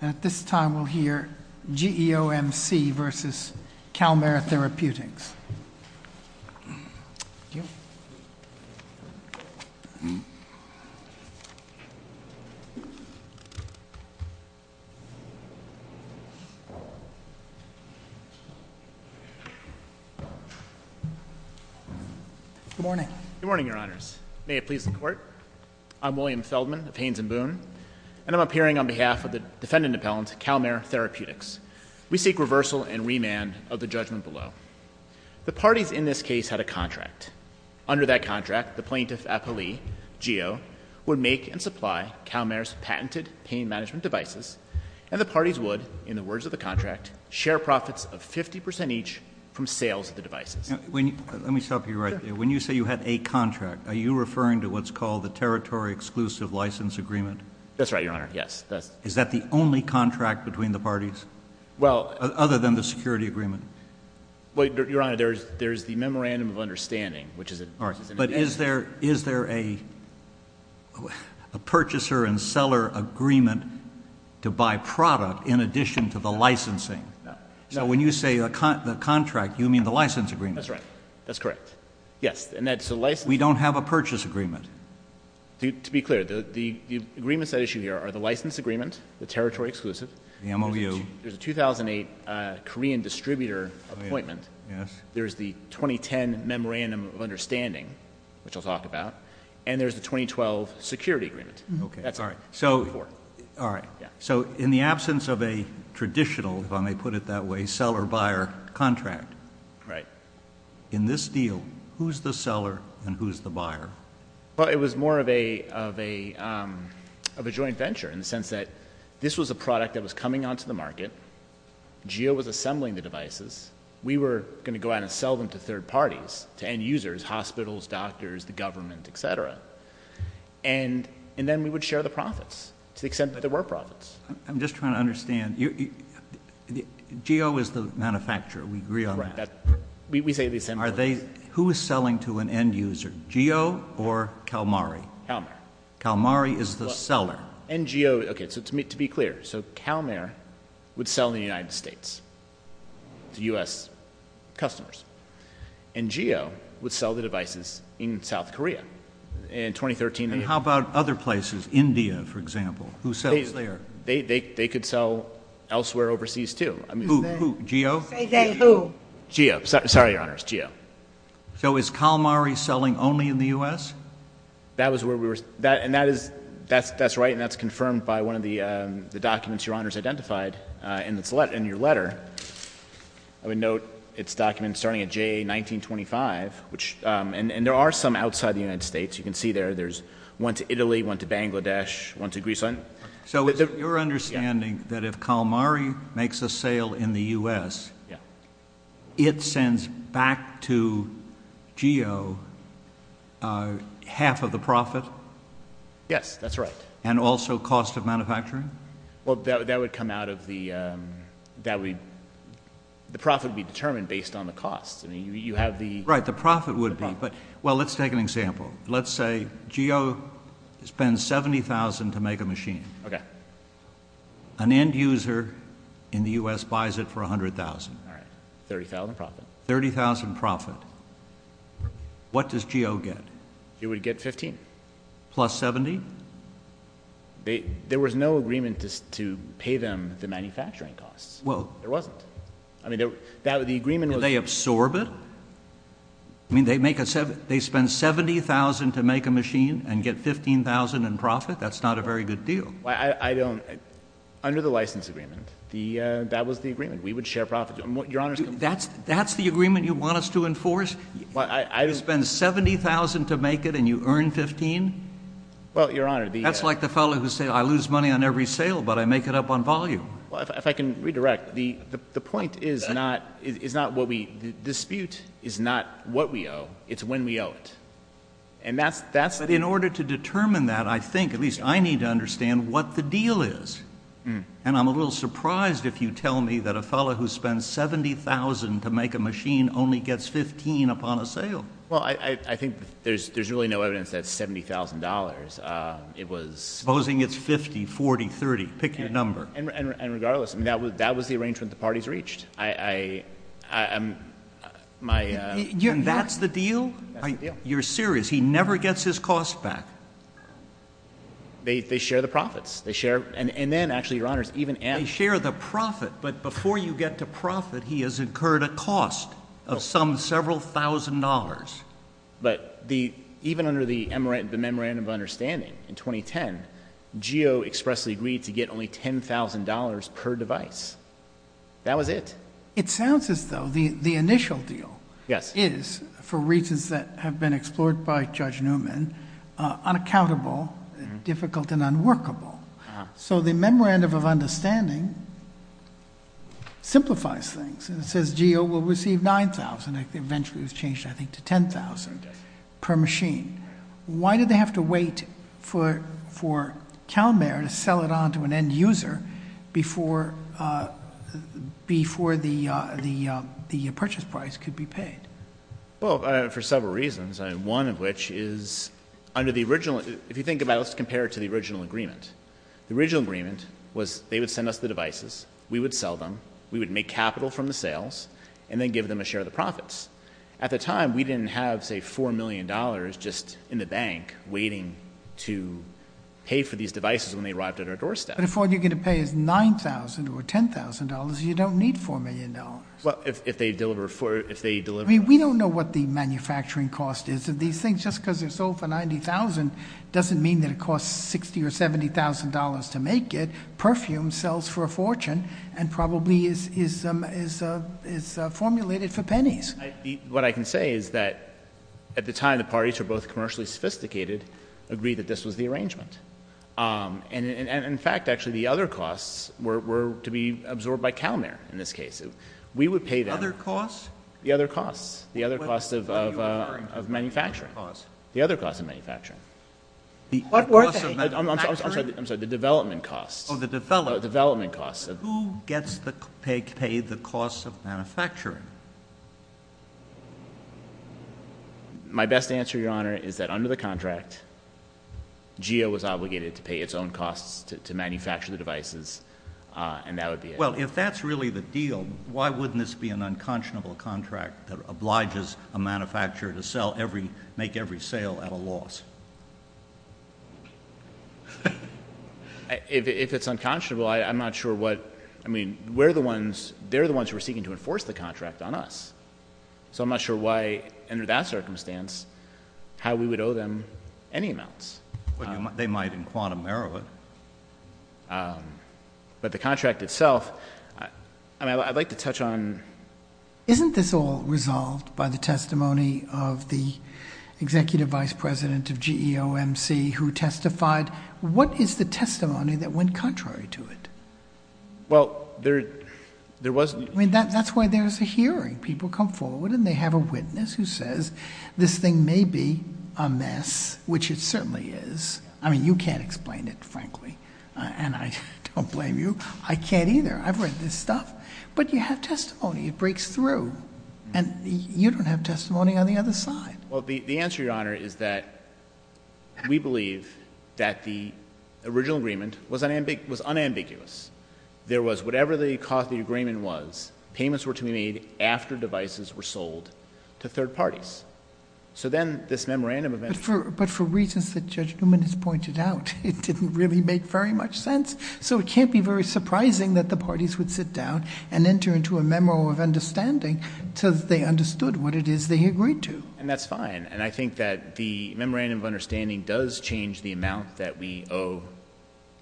At this time, we'll hear GEOMC v. CalMera Therapeutics. Good morning, Your Honors. May it please the Court, I'm William Feldman of Haynes & Boone, and I'm appearing on behalf of the Defendant Appellant, CalMera Therapeutics. We seek reversal and remand of the judgment below. The parties in this case had a contract. Under that contract, the Plaintiff Appellee, GEO, would make and supply CalMera's patented pain management devices, and the parties would, in the words of the contract, share profits of 50% each from sales of the devices. Let me stop you right there. When you say you had a contract, are you referring to what's called the Territory Exclusive License Agreement? That's right, Your Honor. Yes. Is that the only contract between the parties, other than the security agreement? Your Honor, there's the Memorandum of Understanding, which is an agreement. But is there a purchaser and seller agreement to buy product in addition to the licensing? So when you say the contract, you mean the license agreement. That's right. That's correct. Yes. We don't have a purchase agreement. To be clear, the agreements at issue here are the license agreement, the Territory Exclusive. The MOU. There's a 2008 Korean distributor appointment. Yes. There's the 2010 Memorandum of Understanding, which I'll talk about, and there's the 2012 security agreement. Okay. All right. So in the absence of a traditional, if I may put it that way, seller-buyer contract, in this deal, who's the seller and who's the buyer? Well, it was more of a joint venture in the sense that this was a product that was coming onto the market. Jio was assembling the devices. We were going to go out and sell them to third parties, to end users, hospitals, doctors, the government, et cetera. And then we would share the profits to the extent that there were profits. I'm just trying to understand. Jio is the manufacturer. We agree on that. We say these same things. Who is selling to an end user, Jio or CalMari? CalMari. CalMari is the seller. And Jio, okay, so to be clear, so CalMari would sell in the United States to U.S. customers, and Jio would sell the devices in South Korea in 2013. And how about other places, India, for example? Who sells there? They could sell elsewhere overseas, too. Who? Jio? Jio. Sorry, Your Honors, Jio. So is CalMari selling only in the U.S.? That's right, and that's confirmed by one of the documents Your Honors identified in your letter. I would note it's a document starting at J1925, and there are some outside the United States. You can see there, there's one to Italy, one to Bangladesh, one to Greece. So it's your understanding that if CalMari makes a sale in the U.S., it sends back to Jio half of the profit? Yes, that's right. And also cost of manufacturing? Well, that would come out of the – the profit would be determined based on the cost. I mean, you have the – Right, the profit would be, but, well, let's take an example. Let's say Jio spends $70,000 to make a machine. Okay. An end user in the U.S. buys it for $100,000. All right, $30,000 profit. $30,000 profit. What does Jio get? It would get $15,000. Plus $70,000? There was no agreement to pay them the manufacturing costs. Well – There wasn't. I mean, the agreement was – Do they absorb it? I mean, they make a – they spend $70,000 to make a machine and get $15,000 in profit? That's not a very good deal. I don't – under the license agreement, that was the agreement. We would share profit. Your Honor – That's the agreement you want us to enforce? You spend $70,000 to make it and you earn $15,000? Well, Your Honor, the – That's like the fellow who said, I lose money on every sale, but I make it up on volume. Well, if I can redirect, the point is not what we – the dispute is not what we owe, it's when we owe it. And that's – But in order to determine that, I think, at least I need to understand what the deal is. And I'm a little surprised if you tell me that a fellow who spends $70,000 to make a machine only gets $15,000 upon a sale. Well, I think there's really no evidence that $70,000. It was – Supposing it's $50,000, $40,000, $30,000. You pick your number. And regardless, that was the arrangement the parties reached. I am – my – And that's the deal? That's the deal. You're serious? He never gets his cost back? They share the profits. They share – and then, actually, Your Honors, even – They share the profit, but before you get to profit, he has incurred a cost of some several thousand dollars. But even under the memorandum of understanding in 2010, GEO expressly agreed to get only $10,000 per device. That was it. It sounds as though the initial deal is, for reasons that have been explored by Judge Newman, unaccountable, difficult, and unworkable. So the memorandum of understanding simplifies things. It says GEO will receive $9,000. Eventually, it was changed, I think, to $10,000 per machine. Why did they have to wait for CalMare to sell it on to an end user before the purchase price could be paid? Well, for several reasons, one of which is under the original – if you think about it, let's compare it to the original agreement. The original agreement was they would send us the devices. We would sell them. We would make capital from the sales and then give them a share of the profits. At the time, we didn't have, say, $4 million just in the bank waiting to pay for these devices when they arrived at our doorstep. But if all you're going to pay is $9,000 or $10,000, you don't need $4 million. Well, if they deliver – We don't know what the manufacturing cost is of these things. Just because they're sold for $90,000 doesn't mean that it costs $60,000 or $70,000 to make it. Perfume sells for a fortune and probably is formulated for pennies. What I can say is that at the time, the parties were both commercially sophisticated, agreed that this was the arrangement. And in fact, actually, the other costs were to be absorbed by CalMare in this case. We would pay them. Other costs? The other costs. The other costs of manufacturing. The other costs of manufacturing. What were they? I'm sorry. The development costs. Oh, the development. The development costs. Who gets to pay the costs of manufacturing? My best answer, Your Honor, is that under the contract, GEO was obligated to pay its own costs to manufacture the devices, and that would be it. If it's unconscionable, I'm not sure what — I mean, we're the ones — they're the ones who are seeking to enforce the contract on us. So I'm not sure why, under that circumstance, how we would owe them any amounts. They might in quantum error. But the contract itself — I mean, I'd like to touch on — Isn't this all resolved by the testimony of the executive vice president of GEOMC who testified? What is the testimony that went contrary to it? Well, there was — I mean, that's why there's a hearing. People come forward, and they have a witness who says this thing may be a mess, which it certainly is. I mean, you can't explain it, frankly, and I don't blame you. I can't either. I've read this stuff. But you have testimony. It breaks through. And you don't have testimony on the other side. Well, the answer, Your Honor, is that we believe that the original agreement was unambiguous. There was whatever the cost of the agreement was, payments were to be made after devices were sold to third parties. So then this memorandum of interest — But for reasons that Judge Newman has pointed out, it didn't really make very much sense. So it can't be very surprising that the parties would sit down and enter into a memorandum of understanding until they understood what it is they agreed to. And that's fine. And I think that the memorandum of understanding does change the amount that we owe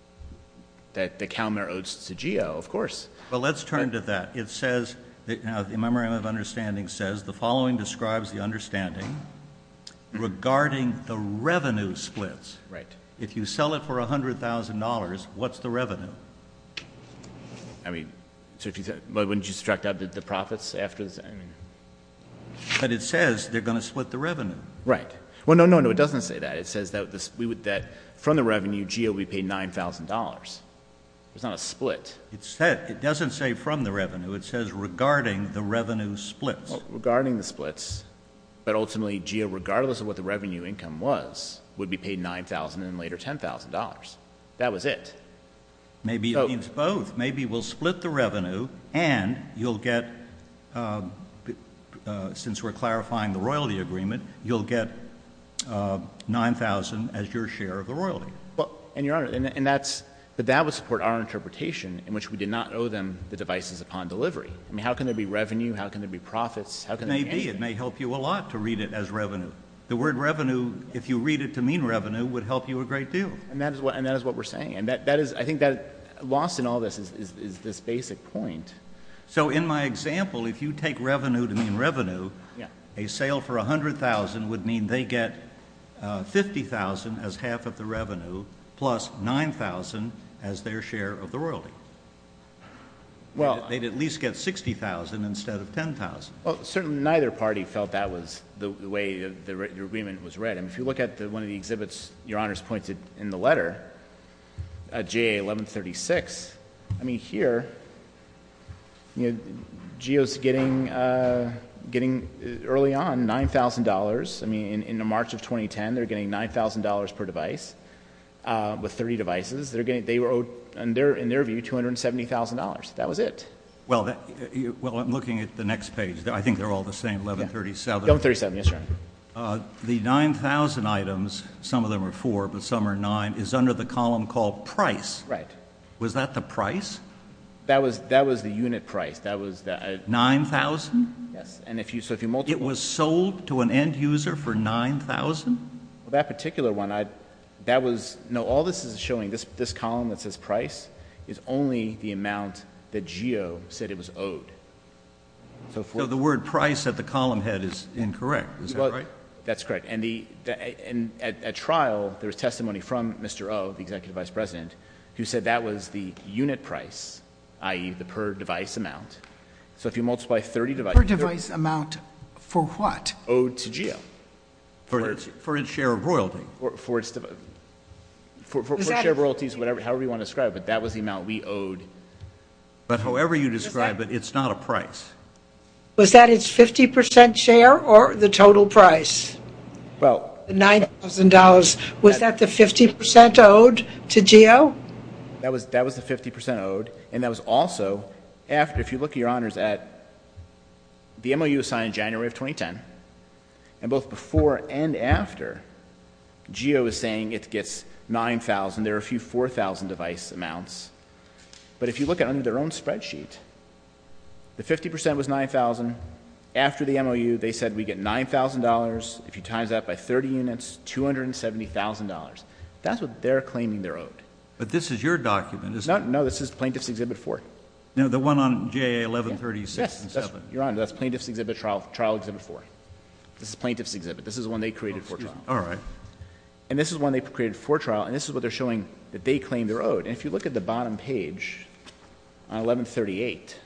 — that the CalMER owes to GEO, of course. Well, let's turn to that. It says — the memorandum of understanding says the following describes the understanding regarding the revenue splits. Right. If you sell it for $100,000, what's the revenue? I mean, wouldn't you subtract out the profits after the — But it says they're going to split the revenue. Right. Well, no, no, no, it doesn't say that. It says that from the revenue, GEO would be paid $9,000. There's not a split. It doesn't say from the revenue. It says regarding the revenue splits. Regarding the splits. But ultimately, GEO, regardless of what the revenue income was, would be paid $9,000 and later $10,000. That was it. Maybe it means both. Maybe we'll split the revenue and you'll get — since we're clarifying the royalty agreement, you'll get $9,000 as your share of the royalty. And, Your Honor, and that's — but that would support our interpretation in which we did not owe them the devices upon delivery. I mean, how can there be revenue? How can there be profits? How can there be anything? It may be. It may help you a lot to read it as revenue. The word revenue, if you read it to mean revenue, would help you a great deal. And that is what we're saying. And that is — I think that lost in all this is this basic point. So in my example, if you take revenue to mean revenue, a sale for $100,000 would mean they get $50,000 as half of the revenue plus $9,000 as their share of the royalty. Well — They'd at least get $60,000 instead of $10,000. Well, certainly neither party felt that was the way the agreement was read. And if you look at one of the exhibits Your Honor's pointed in the letter, J.A. 1136, I mean, here, you know, Jio's getting early on $9,000. I mean, in March of 2010, they're getting $9,000 per device with 30 devices. They were owed, in their view, $270,000. That was it. Well, I'm looking at the next page. I think they're all the same, 1137. 1137, yes, Your Honor. The 9,000 items, some of them are four, but some are nine, is under the column called price. Right. Was that the price? That was the unit price. 9,000? Yes. It was sold to an end user for 9,000? That particular one, that was, no, all this is showing, this column that says price, is only the amount that Jio said it was owed. So the word price at the column head is incorrect, is that right? That's correct. And at trial, there was testimony from Mr. O, the executive vice president, who said that was the unit price, i.e., the per device amount. So if you multiply 30 devices. Per device amount for what? Owed to Jio. For its share of royalty. For share royalties, however you want to describe it, that was the amount we owed. But however you describe it, it's not a price. Was that its 50% share or the total price? Well. The $9,000, was that the 50% owed to Jio? That was the 50% owed, and that was also after, if you look, Your Honors, the MOU was signed in January of 2010. And both before and after, Jio is saying it gets $9,000. There are a few $4,000 device amounts. But if you look under their own spreadsheet, the 50% was $9,000. After the MOU, they said we get $9,000. If you times that by 30 units, $270,000. That's what they're claiming they're owed. But this is your document. No, this is Plaintiff's Exhibit 4. No, the one on JA 1136 and 7. Your Honor, that's Plaintiff's Exhibit, Trial Exhibit 4. This is Plaintiff's Exhibit. This is the one they created for trial. All right. And this is the one they created for trial. And this is what they're showing that they claim they're owed. And if you look at the bottom page, on 1138,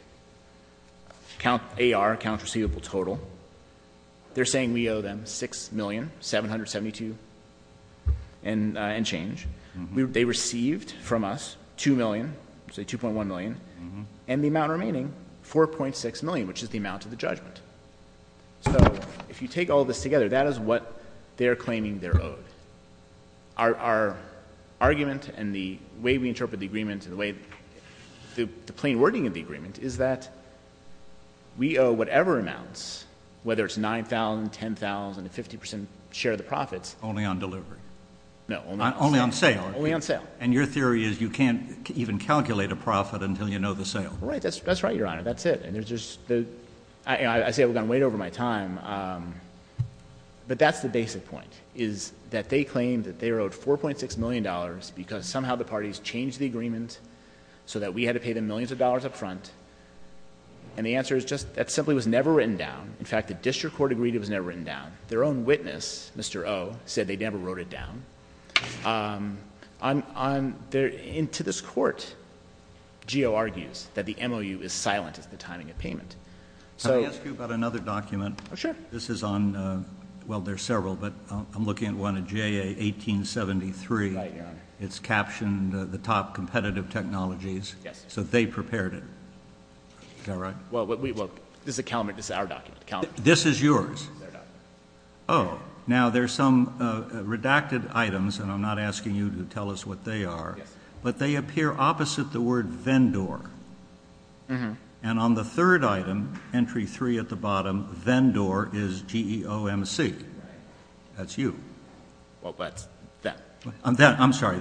count AR, count receivable total, they're saying we owe them $6,772,000 and change. They received from us $2 million, so $2.1 million, and the amount remaining, $4.6 million, which is the amount of the judgment. So if you take all this together, that is what they're claiming they're owed. Our argument and the way we interpret the agreement and the plain wording of the agreement is that we owe whatever amounts, whether it's $9,000, $10,000, a 50% share of the profits. Only on delivery. No. Only on sale. Only on sale. And your theory is you can't even calculate a profit until you know the sale. Right. That's right, Your Honor. That's it. I say I'm going to wait over my time. But that's the basic point, is that they claim that they're owed $4.6 million because somehow the parties changed the agreement so that we had to pay them millions of dollars up front. And the answer is just that simply was never written down. In fact, the district court agreed it was never written down. Their own witness, Mr. O, said they never wrote it down. To this court, Gio argues that the MOU is silent at the timing of payment. Can I ask you about another document? Oh, sure. This is on, well, there are several, but I'm looking at one, a JA 1873. Right, Your Honor. It's captioned the top competitive technologies. Yes. So they prepared it. Is that right? Well, this is our document. This is yours? They're not. Oh. Now, there's some redacted items, and I'm not asking you to tell us what they are. Yes. But they appear opposite the word vendor. Mm-hmm. And on the third item, entry three at the bottom, vendor is G-E-O-M-C. Right. That's you. Well, that's them. I'm sorry.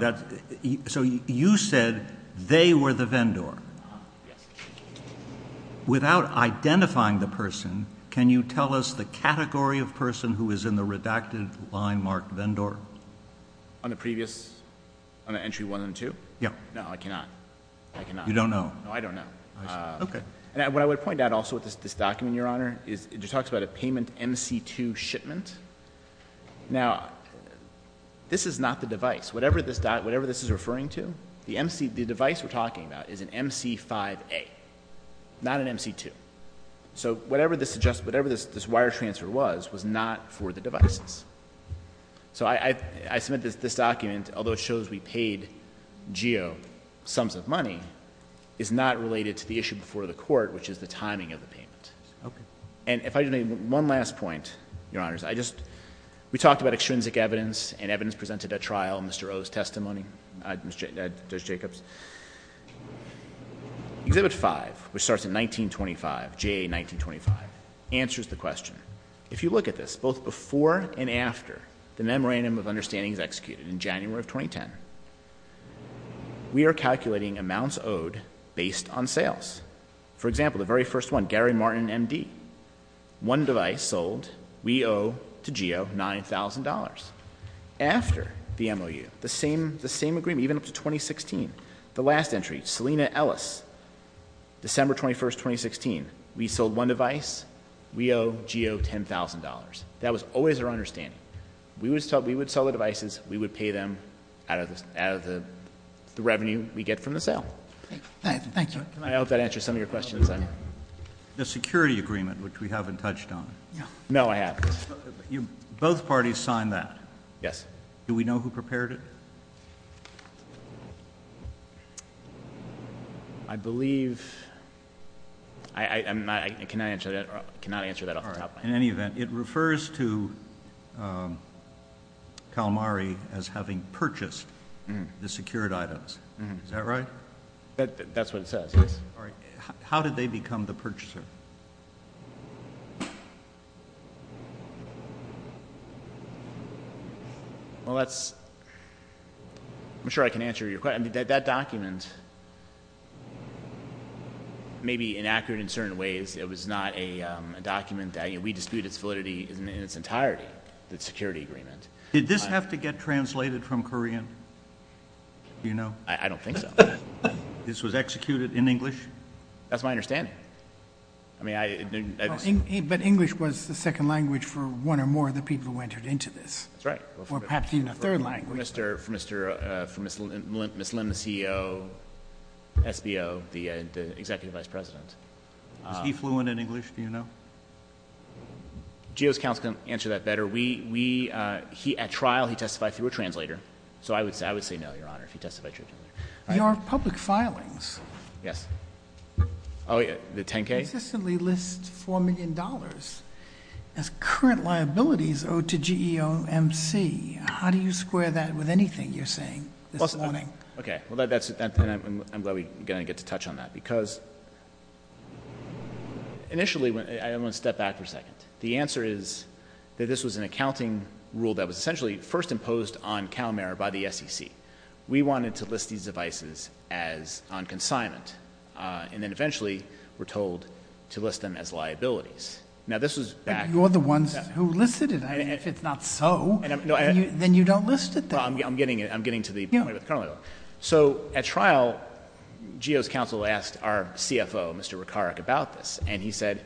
So you said they were the vendor. Yes. Without identifying the person, can you tell us the category of person who is in the redacted line marked vendor? On the previous, on the entry one and two? Yeah. No, I cannot. I cannot. You don't know? No, I don't know. I see. Okay. And what I would point out also with this document, Your Honor, is it talks about a payment MC2 shipment. Now, this is not the device. Whatever this is referring to, the device we're talking about is an MC5A. Not an MC2. So whatever this wire transfer was, was not for the devices. So I submit this document, although it shows we paid G-E-O sums of money, is not related to the issue before the court, which is the timing of the payment. Okay. And if I could make one last point, Your Honors. We talked about extrinsic evidence, and evidence presented at trial, Mr. O's testimony, Judge Jacobs. Exhibit five, which starts in 1925, J1925, answers the question. If you look at this, both before and after the memorandum of understanding is executed, in January of 2010, we are calculating amounts owed based on sales. For example, the very first one, Gary Martin, M.D. One device sold. We owe to G-E-O $9,000. After the MOU, the same agreement, even up to 2016. The last entry, Selina Ellis, December 21, 2016. We sold one device. We owe G-E-O $10,000. That was always our understanding. We would sell the devices. We would pay them out of the revenue we get from the sale. Thank you. I hope that answers some of your questions. The security agreement, which we haven't touched on. No, I haven't. Both parties signed that. Yes. Do we know who prepared it? I believe ‑‑ I cannot answer that off the top of my head. In any event, it refers to Calamari as having purchased the secured items. Is that right? That's what it says, yes. How did they become the purchaser? Well, that's ‑‑ I'm sure I can answer your question. That document may be inaccurate in certain ways. It was not a document that we dispute its validity in its entirety, the security agreement. Did this have to get translated from Korean? Do you know? I don't think so. This was executed in English? That's my understanding. But English was the second language for one or more of the people who entered into this. That's right. Or perhaps even a third language. For Ms. Lim, the CEO, SBO, the executive vice president. Was he fluent in English? Do you know? GEO's counsel can answer that better. At trial, he testified through a translator. So I would say no, Your Honor, if he testified through a translator. Your public filings. Yes. The 10K? Consistently lists $4 million as current liabilities owed to GEO MC. How do you square that with anything you're saying this morning? Okay. I'm glad we're going to get to touch on that. Because initially, I want to step back for a second. The answer is that this was an accounting rule that was essentially first imposed on CalMERA by the SEC. We wanted to list these devices as on consignment. And then eventually, we're told to list them as liabilities. Now, this was back. But you're the ones who listed it. If it's not so, then you don't list it then. I'm getting to the point. So at trial, GEO's counsel asked our CFO, Mr. Ricaric, about this. And he said,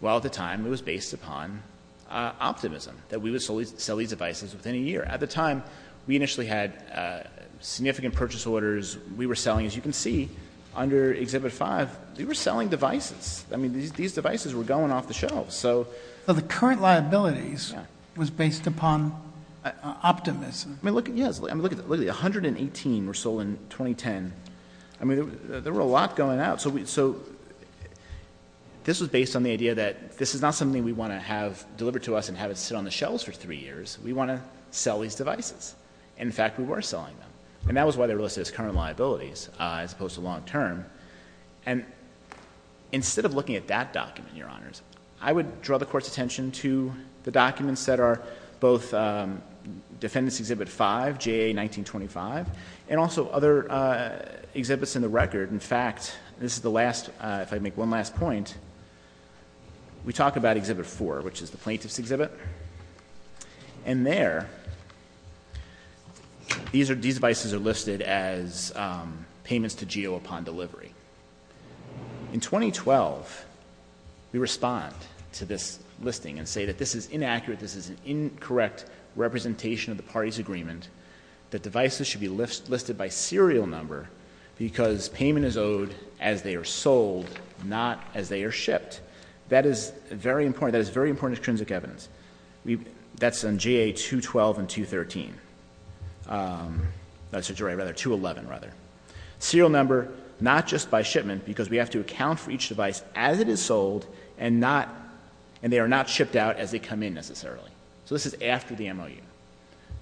well, at the time, it was based upon optimism. That we would sell these devices within a year. At the time, we initially had significant purchase orders. We were selling, as you can see, under Exhibit 5, we were selling devices. I mean, these devices were going off the shelves. So the current liabilities was based upon optimism. Yes. I mean, look at that. 118 were sold in 2010. I mean, there were a lot going out. So this was based on the idea that this is not something we want to have delivered to us and have it sit on the shelves for three years. We want to sell these devices. And in fact, we were selling them. And that was why they were listed as current liabilities as opposed to long term. And instead of looking at that document, Your Honors, I would draw the Court's attention to the documents that are both Defendant's Exhibit 5, J.A. 1925, and also other exhibits in the record. In fact, this is the last, if I make one last point, we talk about Exhibit 4, which is the plaintiff's exhibit. And there, these devices are listed as payments to GEO upon delivery. In 2012, we respond to this listing and say that this is inaccurate, this is an incorrect representation of the parties' agreement, that devices should be listed by serial number because payment is owed as they are sold, not as they are shipped. That is very important. That's on GA 212 and 213. No, I'm sorry, rather 211, rather. Serial number, not just by shipment, because we have to account for each device as it is sold and they are not shipped out as they come in, necessarily. So this is after the MOU.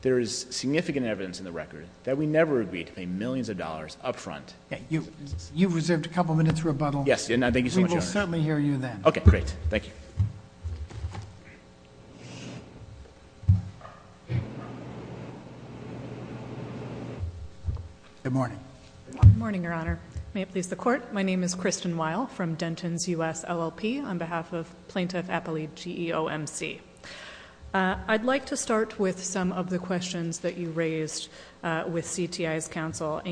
There is significant evidence in the record that we never agreed to pay millions of dollars up front. You've reserved a couple minutes rebuttal. Yes. Thank you so much, Your Honor. We will certainly hear you then. Okay, great. Thank you. Good morning. Good morning, Your Honor. May it please the Court. My name is Kristen Weil from Denton's U.S. LLP on behalf of Plaintiff Appellee GEO MC. I'd like to start with some of the questions that you raised with CTI's counsel.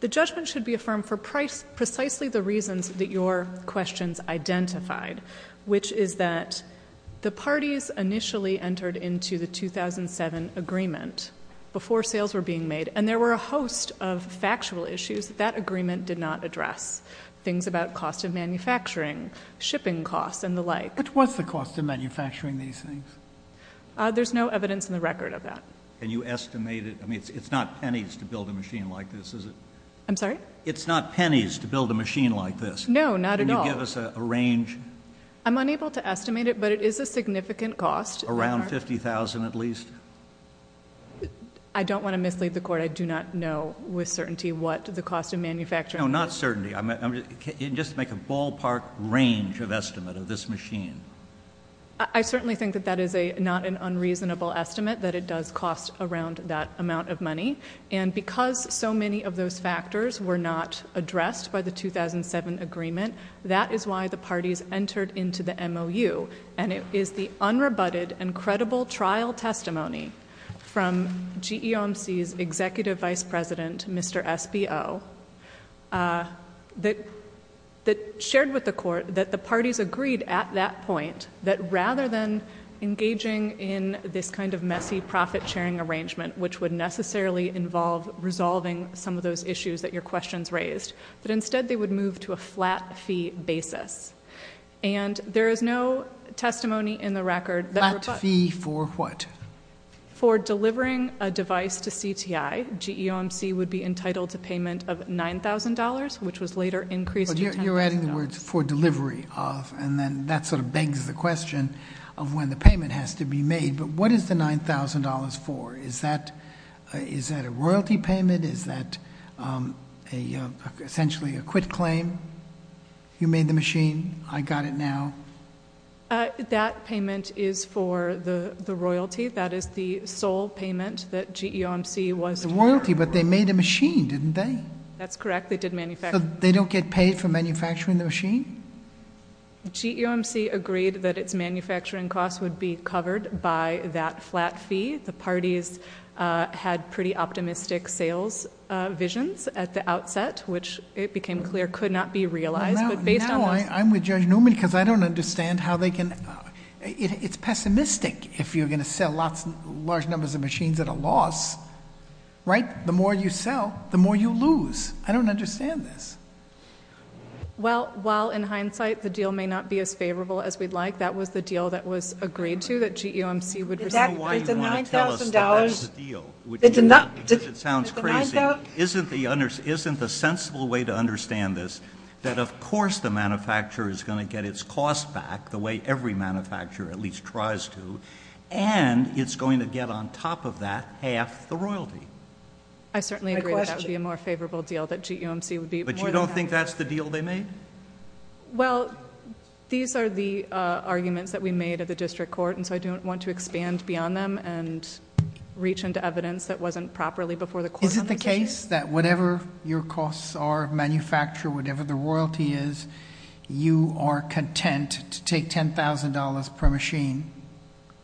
The judgment should be affirmed for precisely the reasons that your questions identified, which is that the parties initially entered into the 2007 agreement before sales were being made, and there were a host of factual issues that that agreement did not address, things about cost of manufacturing, shipping costs, and the like. Which was the cost of manufacturing these things? There's no evidence in the record of that. Can you estimate it? I mean, it's not pennies to build a machine like this, is it? I'm sorry? It's not pennies to build a machine like this. No, not at all. Can you give us a range? I'm unable to estimate it, but it is a significant cost. Around $50,000 at least? I don't want to mislead the Court. I do not know with certainty what the cost of manufacturing is. No, not certainty. Just make a ballpark range of estimate of this machine. I certainly think that that is not an unreasonable estimate, that it does cost around that amount of money. And because so many of those factors were not addressed by the 2007 agreement, that is why the parties entered into the MOU. And it is the unrebutted and credible trial testimony from GEOMC's Executive Vice President, Mr. SBO, that shared with the Court that the parties agreed at that point that rather than engaging in this kind of messy profit sharing arrangement, which would necessarily involve resolving some of those issues that your questions raised, that instead they would move to a flat fee basis. And there is no testimony in the record... Flat fee for what? For delivering a device to CTI, GEOMC would be entitled to payment of $9,000, which was later increased to $10,000. You're adding the words for delivery of, and then that sort of begs the question of when the payment has to be made. But what is the $9,000 for? Is that a royalty payment? Is that essentially a quit claim? You made the machine. I got it now. That payment is for the royalty. That is the sole payment that GEOMC was... The royalty, but they made a machine, didn't they? That's correct, they did manufacture... So they don't get paid for manufacturing the machine? GEOMC agreed that its manufacturing costs would be covered by that flat fee. The parties had pretty optimistic sales visions at the outset, which it became clear could not be realized. Now I'm with Judge Newman because I don't understand how they can... It's pessimistic if you're going to sell large numbers of machines at a loss, right? The more you sell, the more you lose. I don't understand this. Well, in hindsight, the deal may not be as favorable as we'd like. That was the deal that was agreed to that GEOMC would receive. Is that why you want to tell us that that's the deal? Because it sounds crazy. Isn't the sensible way to understand this that, of course, the manufacturer is going to get its costs back the way every manufacturer at least tries to, and it's going to get on top of that half the royalty? I certainly agree that that would be a more favorable deal that GEOMC would be... But you don't think that's the deal they made? Well, these are the arguments that we made at the district court, and so I don't want to expand beyond them and reach into evidence that wasn't properly before the court... Is it the case that whatever your costs are, manufacturer, whatever the royalty is, you are content to take $10,000 per machine?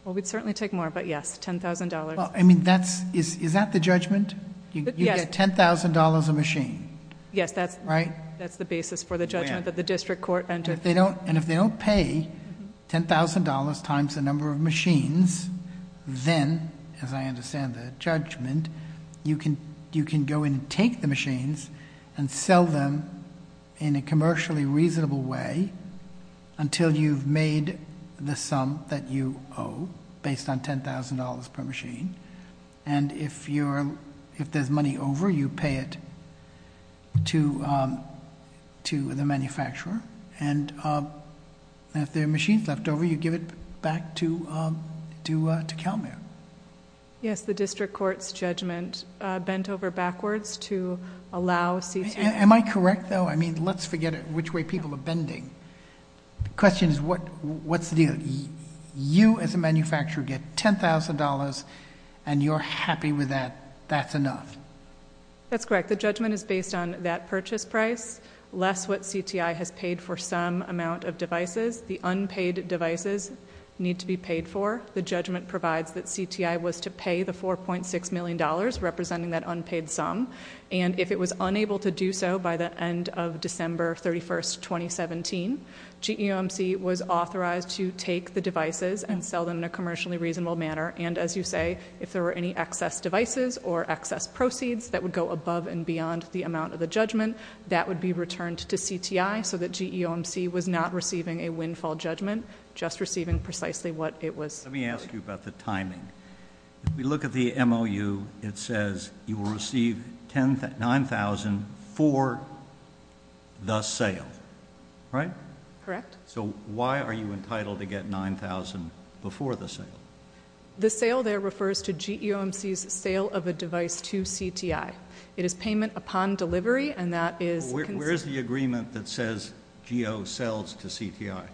Well, we'd certainly take more, but yes, $10,000. Is that the judgment? Yes. You get $10,000 a machine, right? Yes, that's the basis for the judgment that the district court entered. And if they don't pay $10,000 times the number of machines, then, as I understand the judgment, you can go and take the machines and sell them in a commercially reasonable way until you've made the sum that you owe based on $10,000 per machine. And if there's money over, you pay it to the manufacturer, and if there are machines left over, you give it back to CalMere. Yes, the district court's judgment bent over backwards to allow... Am I correct, though? I mean, let's forget which way people are bending. The question is, what's the deal? If you, as a manufacturer, get $10,000 and you're happy with that, that's enough? That's correct. The judgment is based on that purchase price, less what CTI has paid for some amount of devices. The unpaid devices need to be paid for. The judgment provides that CTI was to pay the $4.6 million, representing that unpaid sum, and if it was unable to do so by the end of December 31, 2017, GEOMC was authorized to take the devices and sell them in a commercially reasonable manner. And, as you say, if there were any excess devices or excess proceeds that would go above and beyond the amount of the judgment, that would be returned to CTI so that GEOMC was not receiving a windfall judgment, just receiving precisely what it was... Let me ask you about the timing. If we look at the MOU, it says you will receive $9,000 for the sale, right? Correct. So why are you entitled to get $9,000 before the sale? The sale there refers to GEOMC's sale of a device to CTI. It is payment upon delivery, and that is... Where is the agreement that says GEO sells to CTI?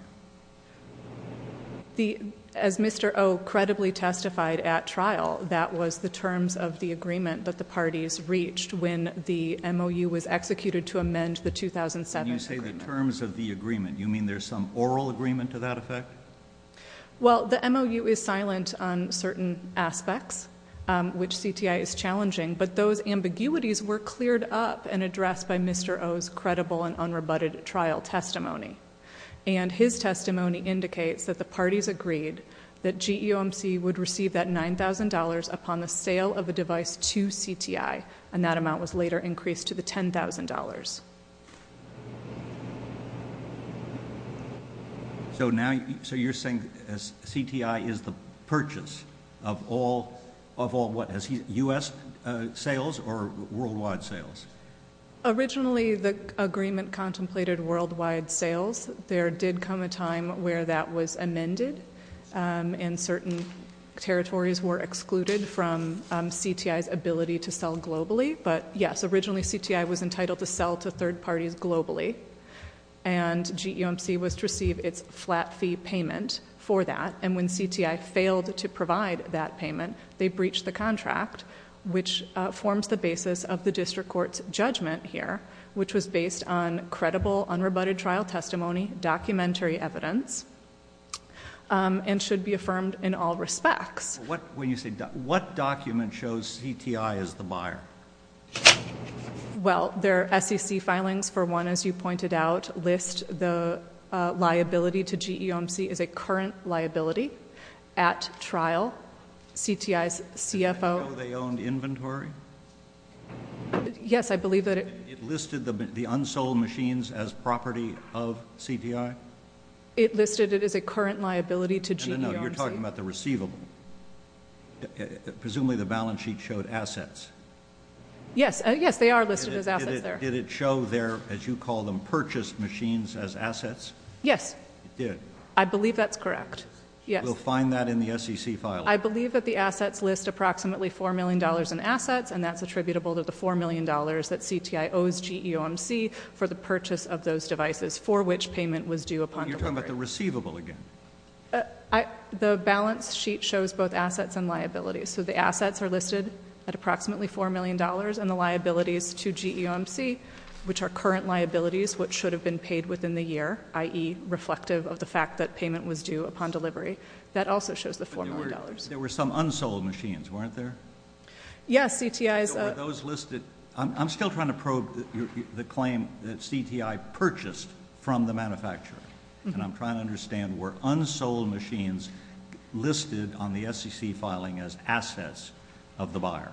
As Mr. O credibly testified at trial, that was the terms of the agreement that the parties reached when the MOU was executed to amend the 2007 agreement. When you say the terms of the agreement, you mean there's some oral agreement to that effect? Well, the MOU is silent on certain aspects, which CTI is challenging, but those ambiguities were cleared up and addressed by Mr. O's credible and unrebutted trial testimony. And his testimony indicates that the parties agreed that GEOMC would receive that $9,000 upon the sale of a device to CTI, and that amount was later increased to the $10,000. So you're saying CTI is the purchase of all U.S. sales or worldwide sales? Originally, the agreement contemplated worldwide sales. There did come a time where that was amended, and certain territories were excluded from CTI's ability to sell globally. But yes, originally CTI was entitled to sell to third parties globally, and GEOMC was to receive its flat fee payment for that. And when CTI failed to provide that payment, they breached the contract, which forms the basis of the district court's judgment here, which was based on credible, unrebutted trial testimony, documentary evidence, and should be affirmed in all respects. When you say document, what document shows CTI is the buyer? Well, their SEC filings, for one, as you pointed out, list the liability to GEOMC as a current liability at trial. Do you know they owned inventory? Yes, I believe that it- It listed the unsold machines as property of CTI? It listed it as a current liability to GEOMC. You're talking about the receivable. Presumably the balance sheet showed assets. Yes, they are listed as assets there. Did it show their, as you call them, purchased machines as assets? Yes. It did. I believe that's correct, yes. We'll find that in the SEC filing. I believe that the assets list approximately $4 million in assets, and that's attributable to the $4 million that CTI owes GEOMC for the purchase of those devices, for which payment was due upon delivery. You're talking about the receivable again. The balance sheet shows both assets and liabilities. So the assets are listed at approximately $4 million, and the liabilities to GEOMC, which are current liabilities, which should have been paid within the year, i.e., reflective of the fact that payment was due upon delivery, that also shows the $4 million. There were some unsold machines, weren't there? Yes, CTI's- Were those listed- I'm still trying to probe the claim that CTI purchased from the manufacturer, and I'm trying to understand were unsold machines listed on the SEC filing as assets of the buyer?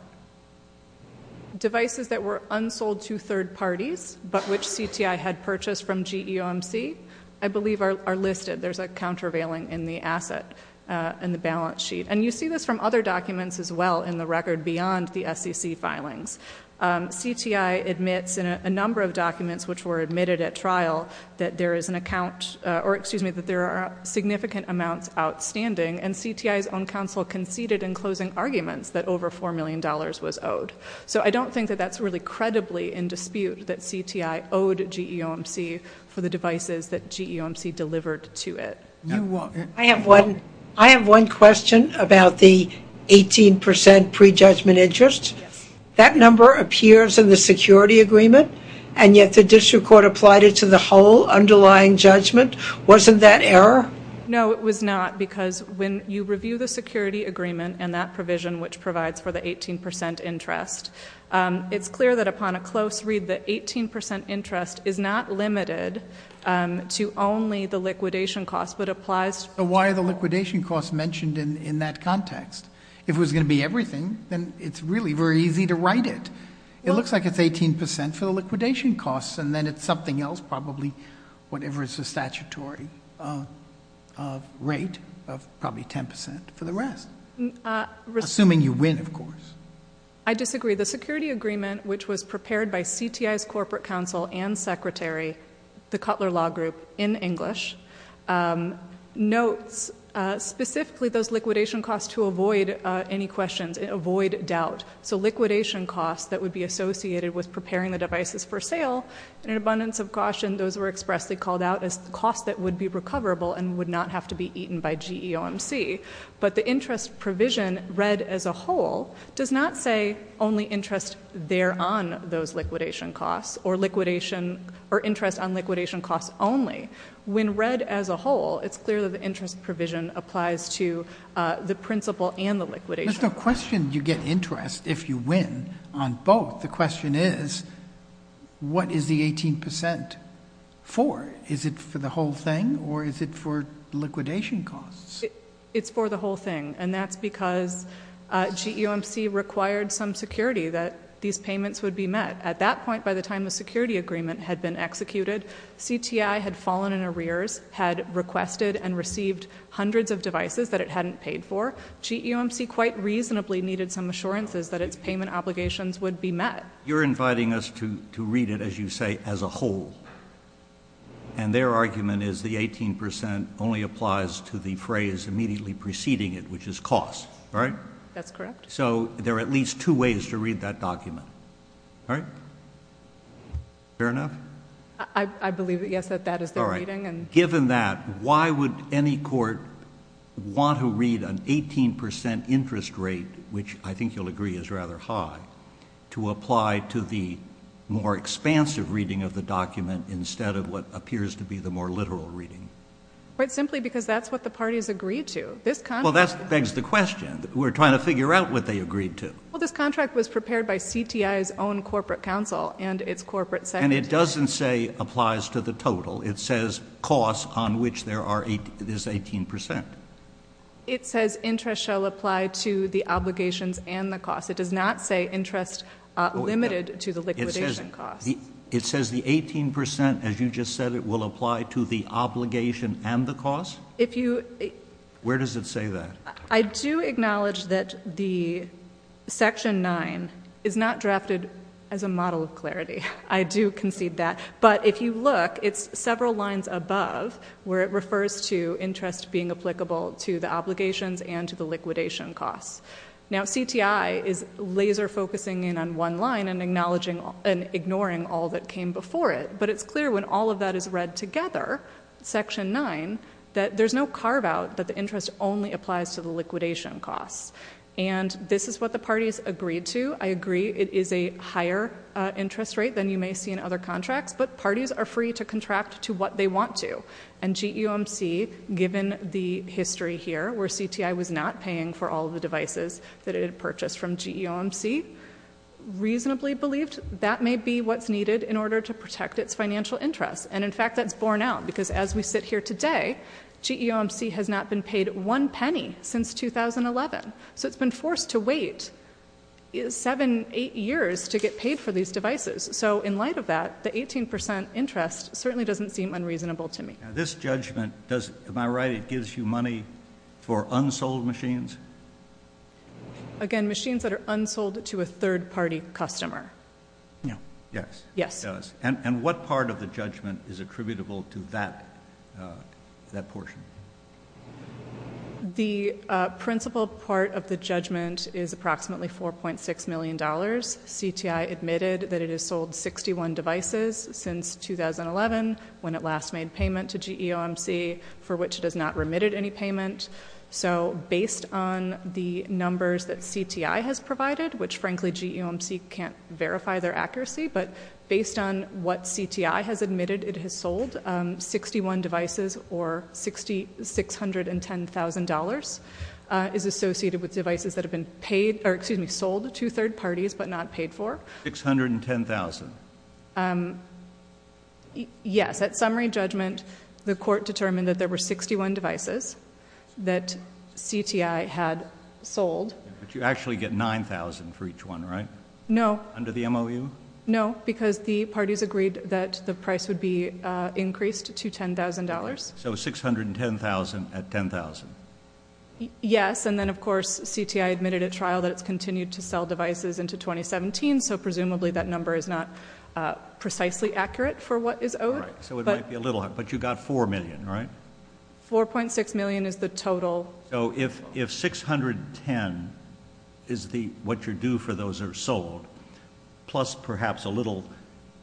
Devices that were unsold to third parties, but which CTI had purchased from GEOMC, I believe are listed. There's a countervailing in the asset in the balance sheet. And you see this from other documents as well in the record beyond the SEC filings. CTI admits in a number of documents which were admitted at trial that there is an account- or, excuse me, that there are significant amounts outstanding, and CTI's own counsel conceded in closing arguments that over $4 million was owed. So I don't think that that's really credibly in dispute that CTI owed GEOMC for the devices that GEOMC delivered to it. I have one question about the 18% prejudgment interest. That number appears in the security agreement, and yet the district court applied it to the whole underlying judgment. Wasn't that error? No, it was not, because when you review the security agreement and that provision which provides for the 18% interest, it's clear that upon a close read the 18% interest is not limited to only the liquidation costs, but applies- Why are the liquidation costs mentioned in that context? If it was going to be everything, then it's really very easy to write it. It looks like it's 18% for the liquidation costs, and then it's something else, probably whatever is the statutory rate of probably 10% for the rest, assuming you win, of course. I disagree. The security agreement, which was prepared by CTI's corporate counsel and secretary, the Cutler Law Group, in English, notes specifically those liquidation costs to avoid any questions and avoid doubt. So liquidation costs that would be associated with preparing the devices for sale, in an abundance of caution, those were expressly called out as costs that would be recoverable and would not have to be eaten by GEOMC. But the interest provision read as a whole does not say only interest there on those liquidation costs or interest on liquidation costs only. When read as a whole, it's clear that the interest provision applies to the principle and the liquidation. There's no question you get interest if you win on both. The question is, what is the 18% for? Is it for the whole thing or is it for liquidation costs? It's for the whole thing, and that's because GEOMC required some security that these payments would be met. At that point, by the time the security agreement had been executed, CTI had fallen in arrears, had requested and received hundreds of devices that it hadn't paid for. GEOMC quite reasonably needed some assurances that its payment obligations would be met. You're inviting us to read it, as you say, as a whole, and their argument is the 18% only applies to the phrase immediately preceding it, which is costs, right? That's correct. So there are at least two ways to read that document, right? Fair enough? I believe, yes, that that is their reading. Given that, why would any court want to read an 18% interest rate, which I think you'll agree is rather high, to apply to the more expansive reading of the document instead of what appears to be the more literal reading? Quite simply because that's what the parties agreed to. Well, that begs the question. We're trying to figure out what they agreed to. Well, this contract was prepared by CTI's own corporate counsel and its corporate secretary. And it doesn't say applies to the total. It says costs on which there is 18%. It says interest shall apply to the obligations and the costs. It does not say interest limited to the liquidation costs. It says the 18%, as you just said it, will apply to the obligation and the costs? Where does it say that? I do acknowledge that the Section 9 is not drafted as a model of clarity. I do concede that. But if you look, it's several lines above where it refers to interest being applicable to the obligations and to the liquidation costs. Now, CTI is laser focusing in on one line and ignoring all that came before it. But it's clear when all of that is read together, Section 9, that there's no carve-out that the interest only applies to the liquidation costs. And this is what the parties agreed to. I agree it is a higher interest rate than you may see in other contracts. But parties are free to contract to what they want to. And GEOMC, given the history here where CTI was not paying for all of the devices that it had purchased from GEOMC, reasonably believed that may be what's needed in order to protect its financial interests. And, in fact, that's borne out. Because as we sit here today, GEOMC has not been paid one penny since 2011. So it's been forced to wait seven, eight years to get paid for these devices. So, in light of that, the 18% interest certainly doesn't seem unreasonable to me. Now, this judgment, am I right, it gives you money for unsold machines? Again, machines that are unsold to a third-party customer. Yes. Yes. And what part of the judgment is attributable to that portion? The principal part of the judgment is approximately $4.6 million. CTI admitted that it has sold 61 devices since 2011, when it last made payment to GEOMC, for which it has not remitted any payment. So, based on the numbers that CTI has provided, which, frankly, GEOMC can't verify their accuracy, but based on what CTI has admitted it has sold, 61 devices, or $610,000, is associated with devices that have been sold to third parties but not paid for. $610,000? Yes. At summary judgment, the court determined that there were 61 devices that CTI had sold. But you actually get $9,000 for each one, right? No. Under the MOU? No, because the parties agreed that the price would be increased to $10,000. So, $610,000 at $10,000? Yes, and then, of course, CTI admitted at trial that it's continued to sell devices into 2017, so presumably that number is not precisely accurate for what is owed. Right, so it might be a little high, but you got $4 million, right? $4.6 million is the total. So if $610,000 is what you're due for those that are sold, plus perhaps a little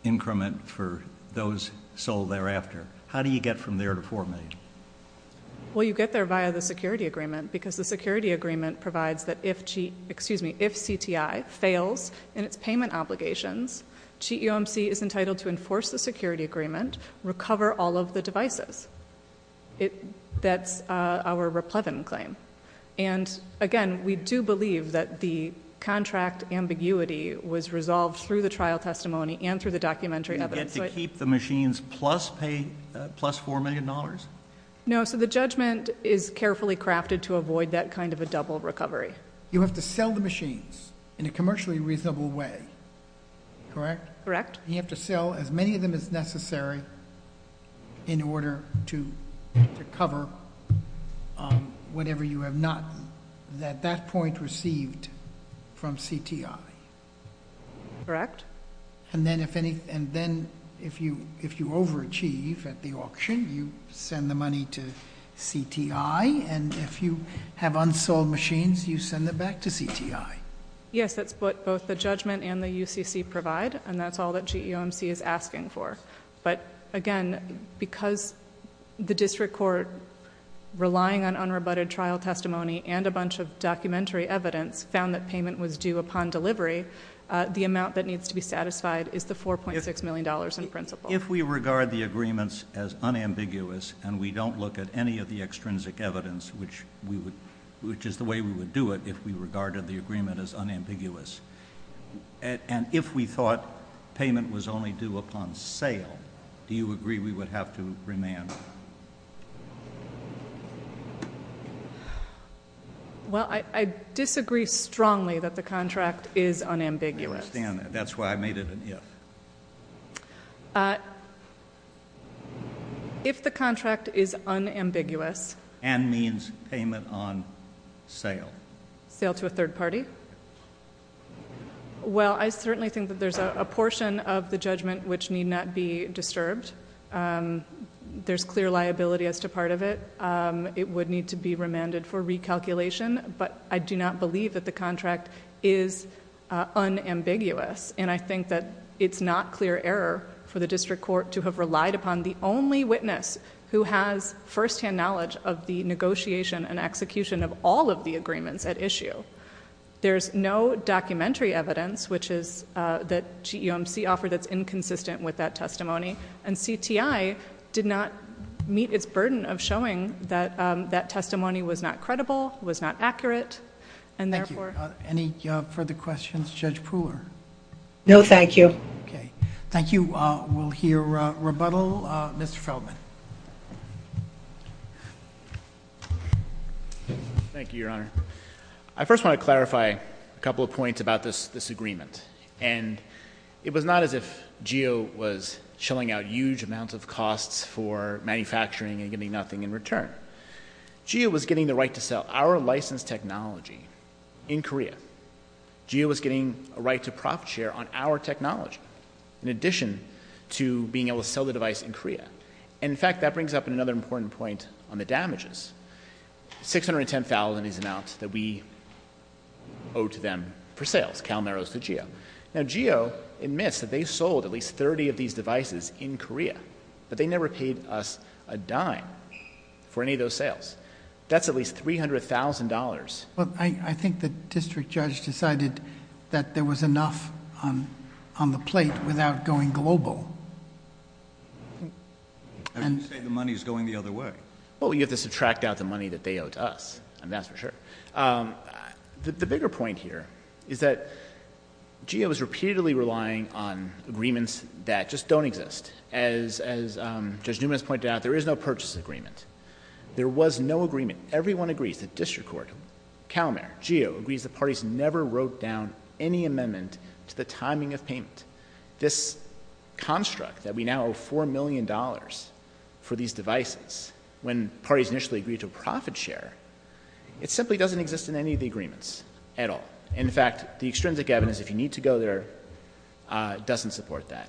increment for those sold thereafter, how do you get from there to $4 million? Well, you get there via the security agreement, because the security agreement provides that if CTI fails in its payment obligations, GEOMC is entitled to enforce the security agreement, recover all of the devices. That's our Raplevin claim. And, again, we do believe that the contract ambiguity was resolved through the trial testimony and through the documentary evidence. You get to keep the machines plus $4 million? No, so the judgment is carefully crafted to avoid that kind of a double recovery. You have to sell the machines in a commercially reasonable way, correct? Correct. You have to sell as many of them as necessary in order to recover whatever you have not at that point received from CTI. Correct. And then if you overachieve at the auction, you send the money to CTI. And if you have unsold machines, you send them back to CTI. Yes, that's what both the judgment and the UCC provide, and that's all that GEOMC is asking for. But, again, because the district court, relying on unrebutted trial testimony and a bunch of documentary evidence, found that payment was due upon delivery, the amount that needs to be satisfied is the $4.6 million in principle. If we regard the agreements as unambiguous and we don't look at any of the extrinsic evidence, which is the way we would do it if we regarded the agreement as unambiguous, and if we thought payment was only due upon sale, do you agree we would have to remand? Well, I disagree strongly that the contract is unambiguous. I understand that. That's why I made it an if. If the contract is unambiguous- And means payment on sale. Sale to a third party. Well, I certainly think that there's a portion of the judgment which need not be disturbed. There's clear liability as to part of it. It would need to be remanded for recalculation, but I do not believe that the contract is unambiguous. And I think that it's not clear error for the district court to have relied upon the only witness who has firsthand knowledge of the negotiation and execution of all of the agreements at issue. There's no documentary evidence, which is that GEMC offered that's inconsistent with that testimony. And CTI did not meet its burden of showing that that testimony was not credible, was not accurate, and therefore- No, thank you. Okay. Thank you. We'll hear rebuttal. Mr. Feldman. Thank you, Your Honor. I first want to clarify a couple of points about this agreement. And it was not as if GEO was chilling out huge amounts of costs for manufacturing and getting nothing in return. GEO was getting the right to sell our licensed technology in Korea. GEO was getting a right to profit share on our technology in addition to being able to sell the device in Korea. And, in fact, that brings up another important point on the damages. $610,000 is the amount that we owe to them for sales. Cal Merrill owes to GEO. Now, GEO admits that they sold at least 30 of these devices in Korea, but they never paid us a dime for any of those sales. That's at least $300,000. Well, I think the district judge decided that there was enough on the plate without going global. You say the money is going the other way. Well, you have to subtract out the money that they owe to us, and that's for sure. The bigger point here is that GEO is repeatedly relying on agreements that just don't exist. As Judge Newman has pointed out, there is no purchase agreement. There was no agreement. Everyone agrees, the district court, Cal Merrill, GEO, agrees the parties never wrote down any amendment to the timing of payment. This construct that we now owe $4 million for these devices, when parties initially agreed to a profit share, it simply doesn't exist in any of the agreements at all. In fact, the extrinsic evidence, if you need to go there, doesn't support that.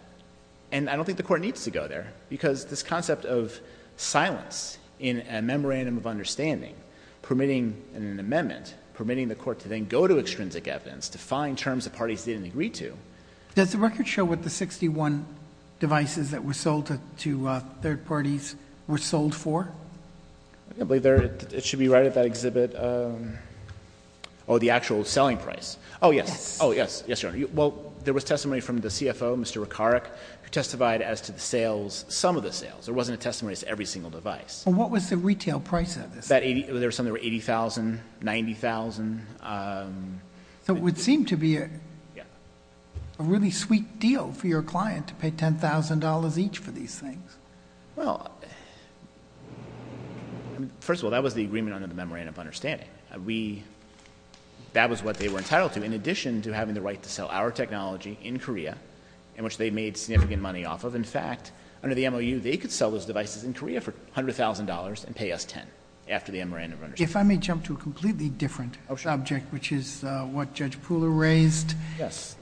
And I don't think the court needs to go there because this concept of silence in a memorandum of understanding, permitting an amendment, permitting the court to then go to extrinsic evidence to find terms the parties didn't agree to. Does the record show what the 61 devices that were sold to third parties were sold for? I believe it should be right at that exhibit. Oh, the actual selling price. Yes. Oh, yes, yes, Your Honor. Well, there was testimony from the CFO, Mr. Rekaric, who testified as to the sales, some of the sales. There wasn't a testimony as to every single device. Well, what was the retail price of this? There were some that were $80,000, $90,000. So it would seem to be a really sweet deal for your client to pay $10,000 each for these things. Well, first of all, that was the agreement under the memorandum of understanding. That was what they were entitled to. In addition to having the right to sell our technology in Korea, in which they made significant money off of, in fact, under the MOU, they could sell those devices in Korea for $100,000 and pay us $10,000 after the memorandum of understanding. If I may jump to a completely different subject, which is what Judge Pula raised. Yes.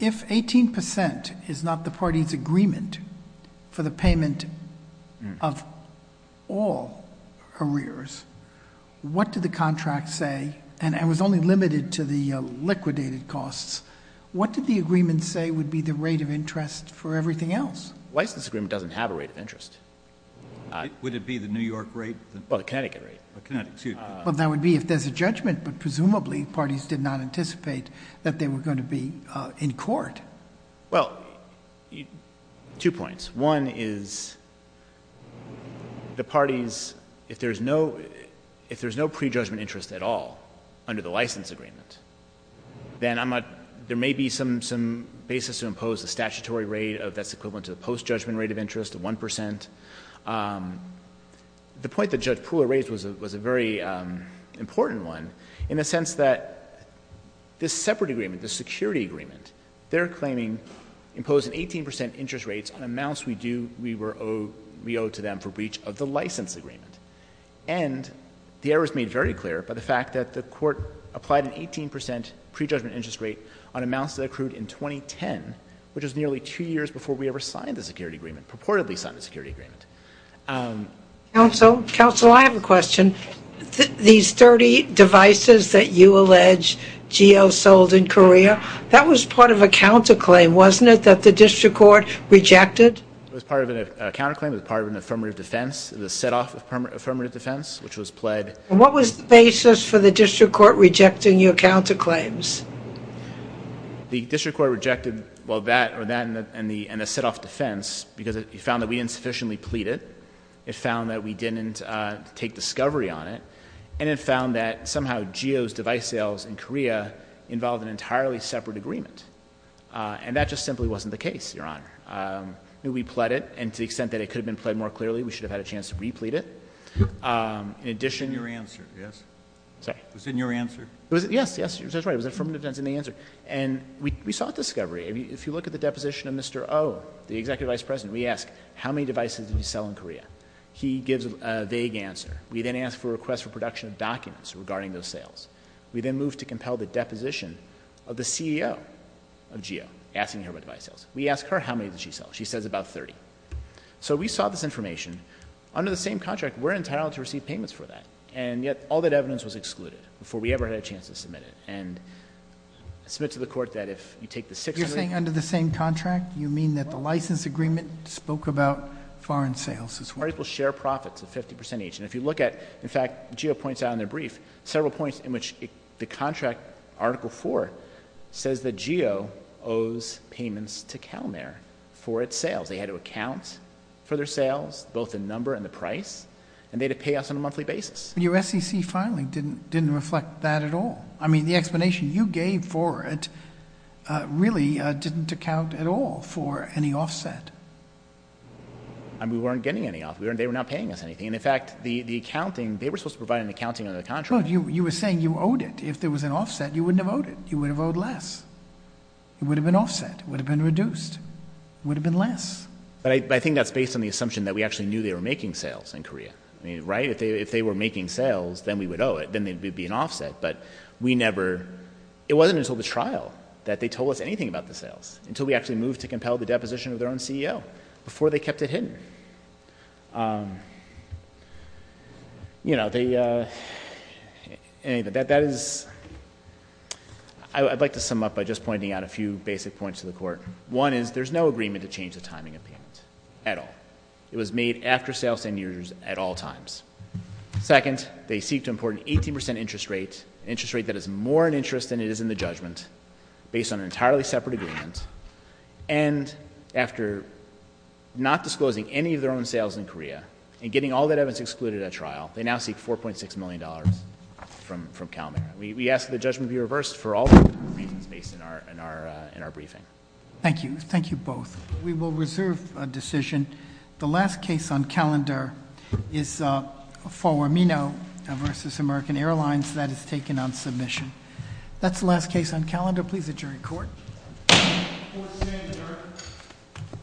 If 18% is not the party's agreement for the payment of all arrears, what did the contract say? And it was only limited to the liquidated costs. What did the agreement say would be the rate of interest for everything else? The license agreement doesn't have a rate of interest. Would it be the New York rate? Well, the Connecticut rate. Connecticut, excuse me. Well, that would be if there's a judgment, but presumably parties did not anticipate that they were going to be in court. Well, two points. One is the parties, if there's no prejudgment interest at all under the license agreement, then there may be some basis to impose a statutory rate that's equivalent to the post-judgment rate of interest of 1%. The point that Judge Pula raised was a very important one in the sense that this separate agreement, this security agreement, they're claiming imposing 18% interest rates on amounts we owe to them for breach of the license agreement. And the error is made very clear by the fact that the Court applied an 18% prejudgment interest rate on amounts that accrued in 2010, which was nearly two years before we ever signed the security agreement, purportedly signed the security agreement. Counsel, counsel, I have a question. These 30 devices that you allege Geo sold in Korea, that was part of a counterclaim, wasn't it, that the district court rejected? It was part of a counterclaim. It was part of an affirmative defense, the set-off affirmative defense, which was pled. And what was the basis for the district court rejecting your counterclaims? The district court rejected, well, that and the set-off defense because it found that we didn't sufficiently plead it. It found that we didn't take discovery on it. And it found that somehow Geo's device sales in Korea involved an entirely separate agreement. And that just simply wasn't the case, Your Honor. We pled it, and to the extent that it could have been pled more clearly, we should have had a chance to re-plead it. In addition... It was in your answer, yes? Sorry? It was in your answer? Yes, that's right. It was affirmative defense in the answer. And we sought discovery. If you look at the deposition of Mr. Oh, the executive vice president, we ask how many devices did he sell in Korea. He gives a vague answer. We then ask for a request for production of documents regarding those sales. We then move to compel the deposition of the CEO of Geo, asking her about device sales. We ask her how many did she sell. She says about 30. So we sought this information. Under the same contract, we're entitled to receive payments for that. And yet, all that evidence was excluded before we ever had a chance to submit it. And I submit to the Court that if you take the six... You're saying under the same contract? You mean that the license agreement spoke about foreign sales as well? Particles share profits of 50 percent each. And if you look at, in fact, Geo points out in their brief, several points in which the contract, Article IV, says that Geo owes payments to CalMare for its sales. They had to account for their sales, both the number and the price, and they had to pay us on a monthly basis. Your SEC filing didn't reflect that at all. I mean, the explanation you gave for it really didn't account at all for any offset. We weren't getting any offset. They were not paying us anything. And, in fact, the accounting... They were supposed to provide an accounting under the contract. You were saying you owed it. If there was an offset, you wouldn't have owed it. You would have owed less. It would have been offset. It would have been reduced. It would have been less. But I think that's based on the assumption that we actually knew they were making sales in Korea. I mean, right? If they were making sales, then we would owe it. Then there would be an offset. But we never... It wasn't until the trial that they told us anything about the sales, until we actually moved to compel the deposition of their own CEO, before they kept it hidden. You know, they... That is... I'd like to sum up by just pointing out a few basic points to the Court. One is, there's no agreement to change the timing of payment, at all. It was made after sales ten years, at all times. Second, they seek to import an 18 percent interest rate, an interest rate that is more an interest than it is in the judgment, based on an entirely separate agreement. And, after not disclosing any of their own sales in Korea, and getting all of that evidence excluded at trial, they now seek $4.6 million from CalMeri. We ask that the judgment be reversed for all the reasons based in our briefing. Thank you. Thank you, both. We will reserve a decision. The last case on calendar is Forwar Minow v. American Airlines. That is taken on submission. That's the last case on calendar. Please adjourn to court. Court is adjourned.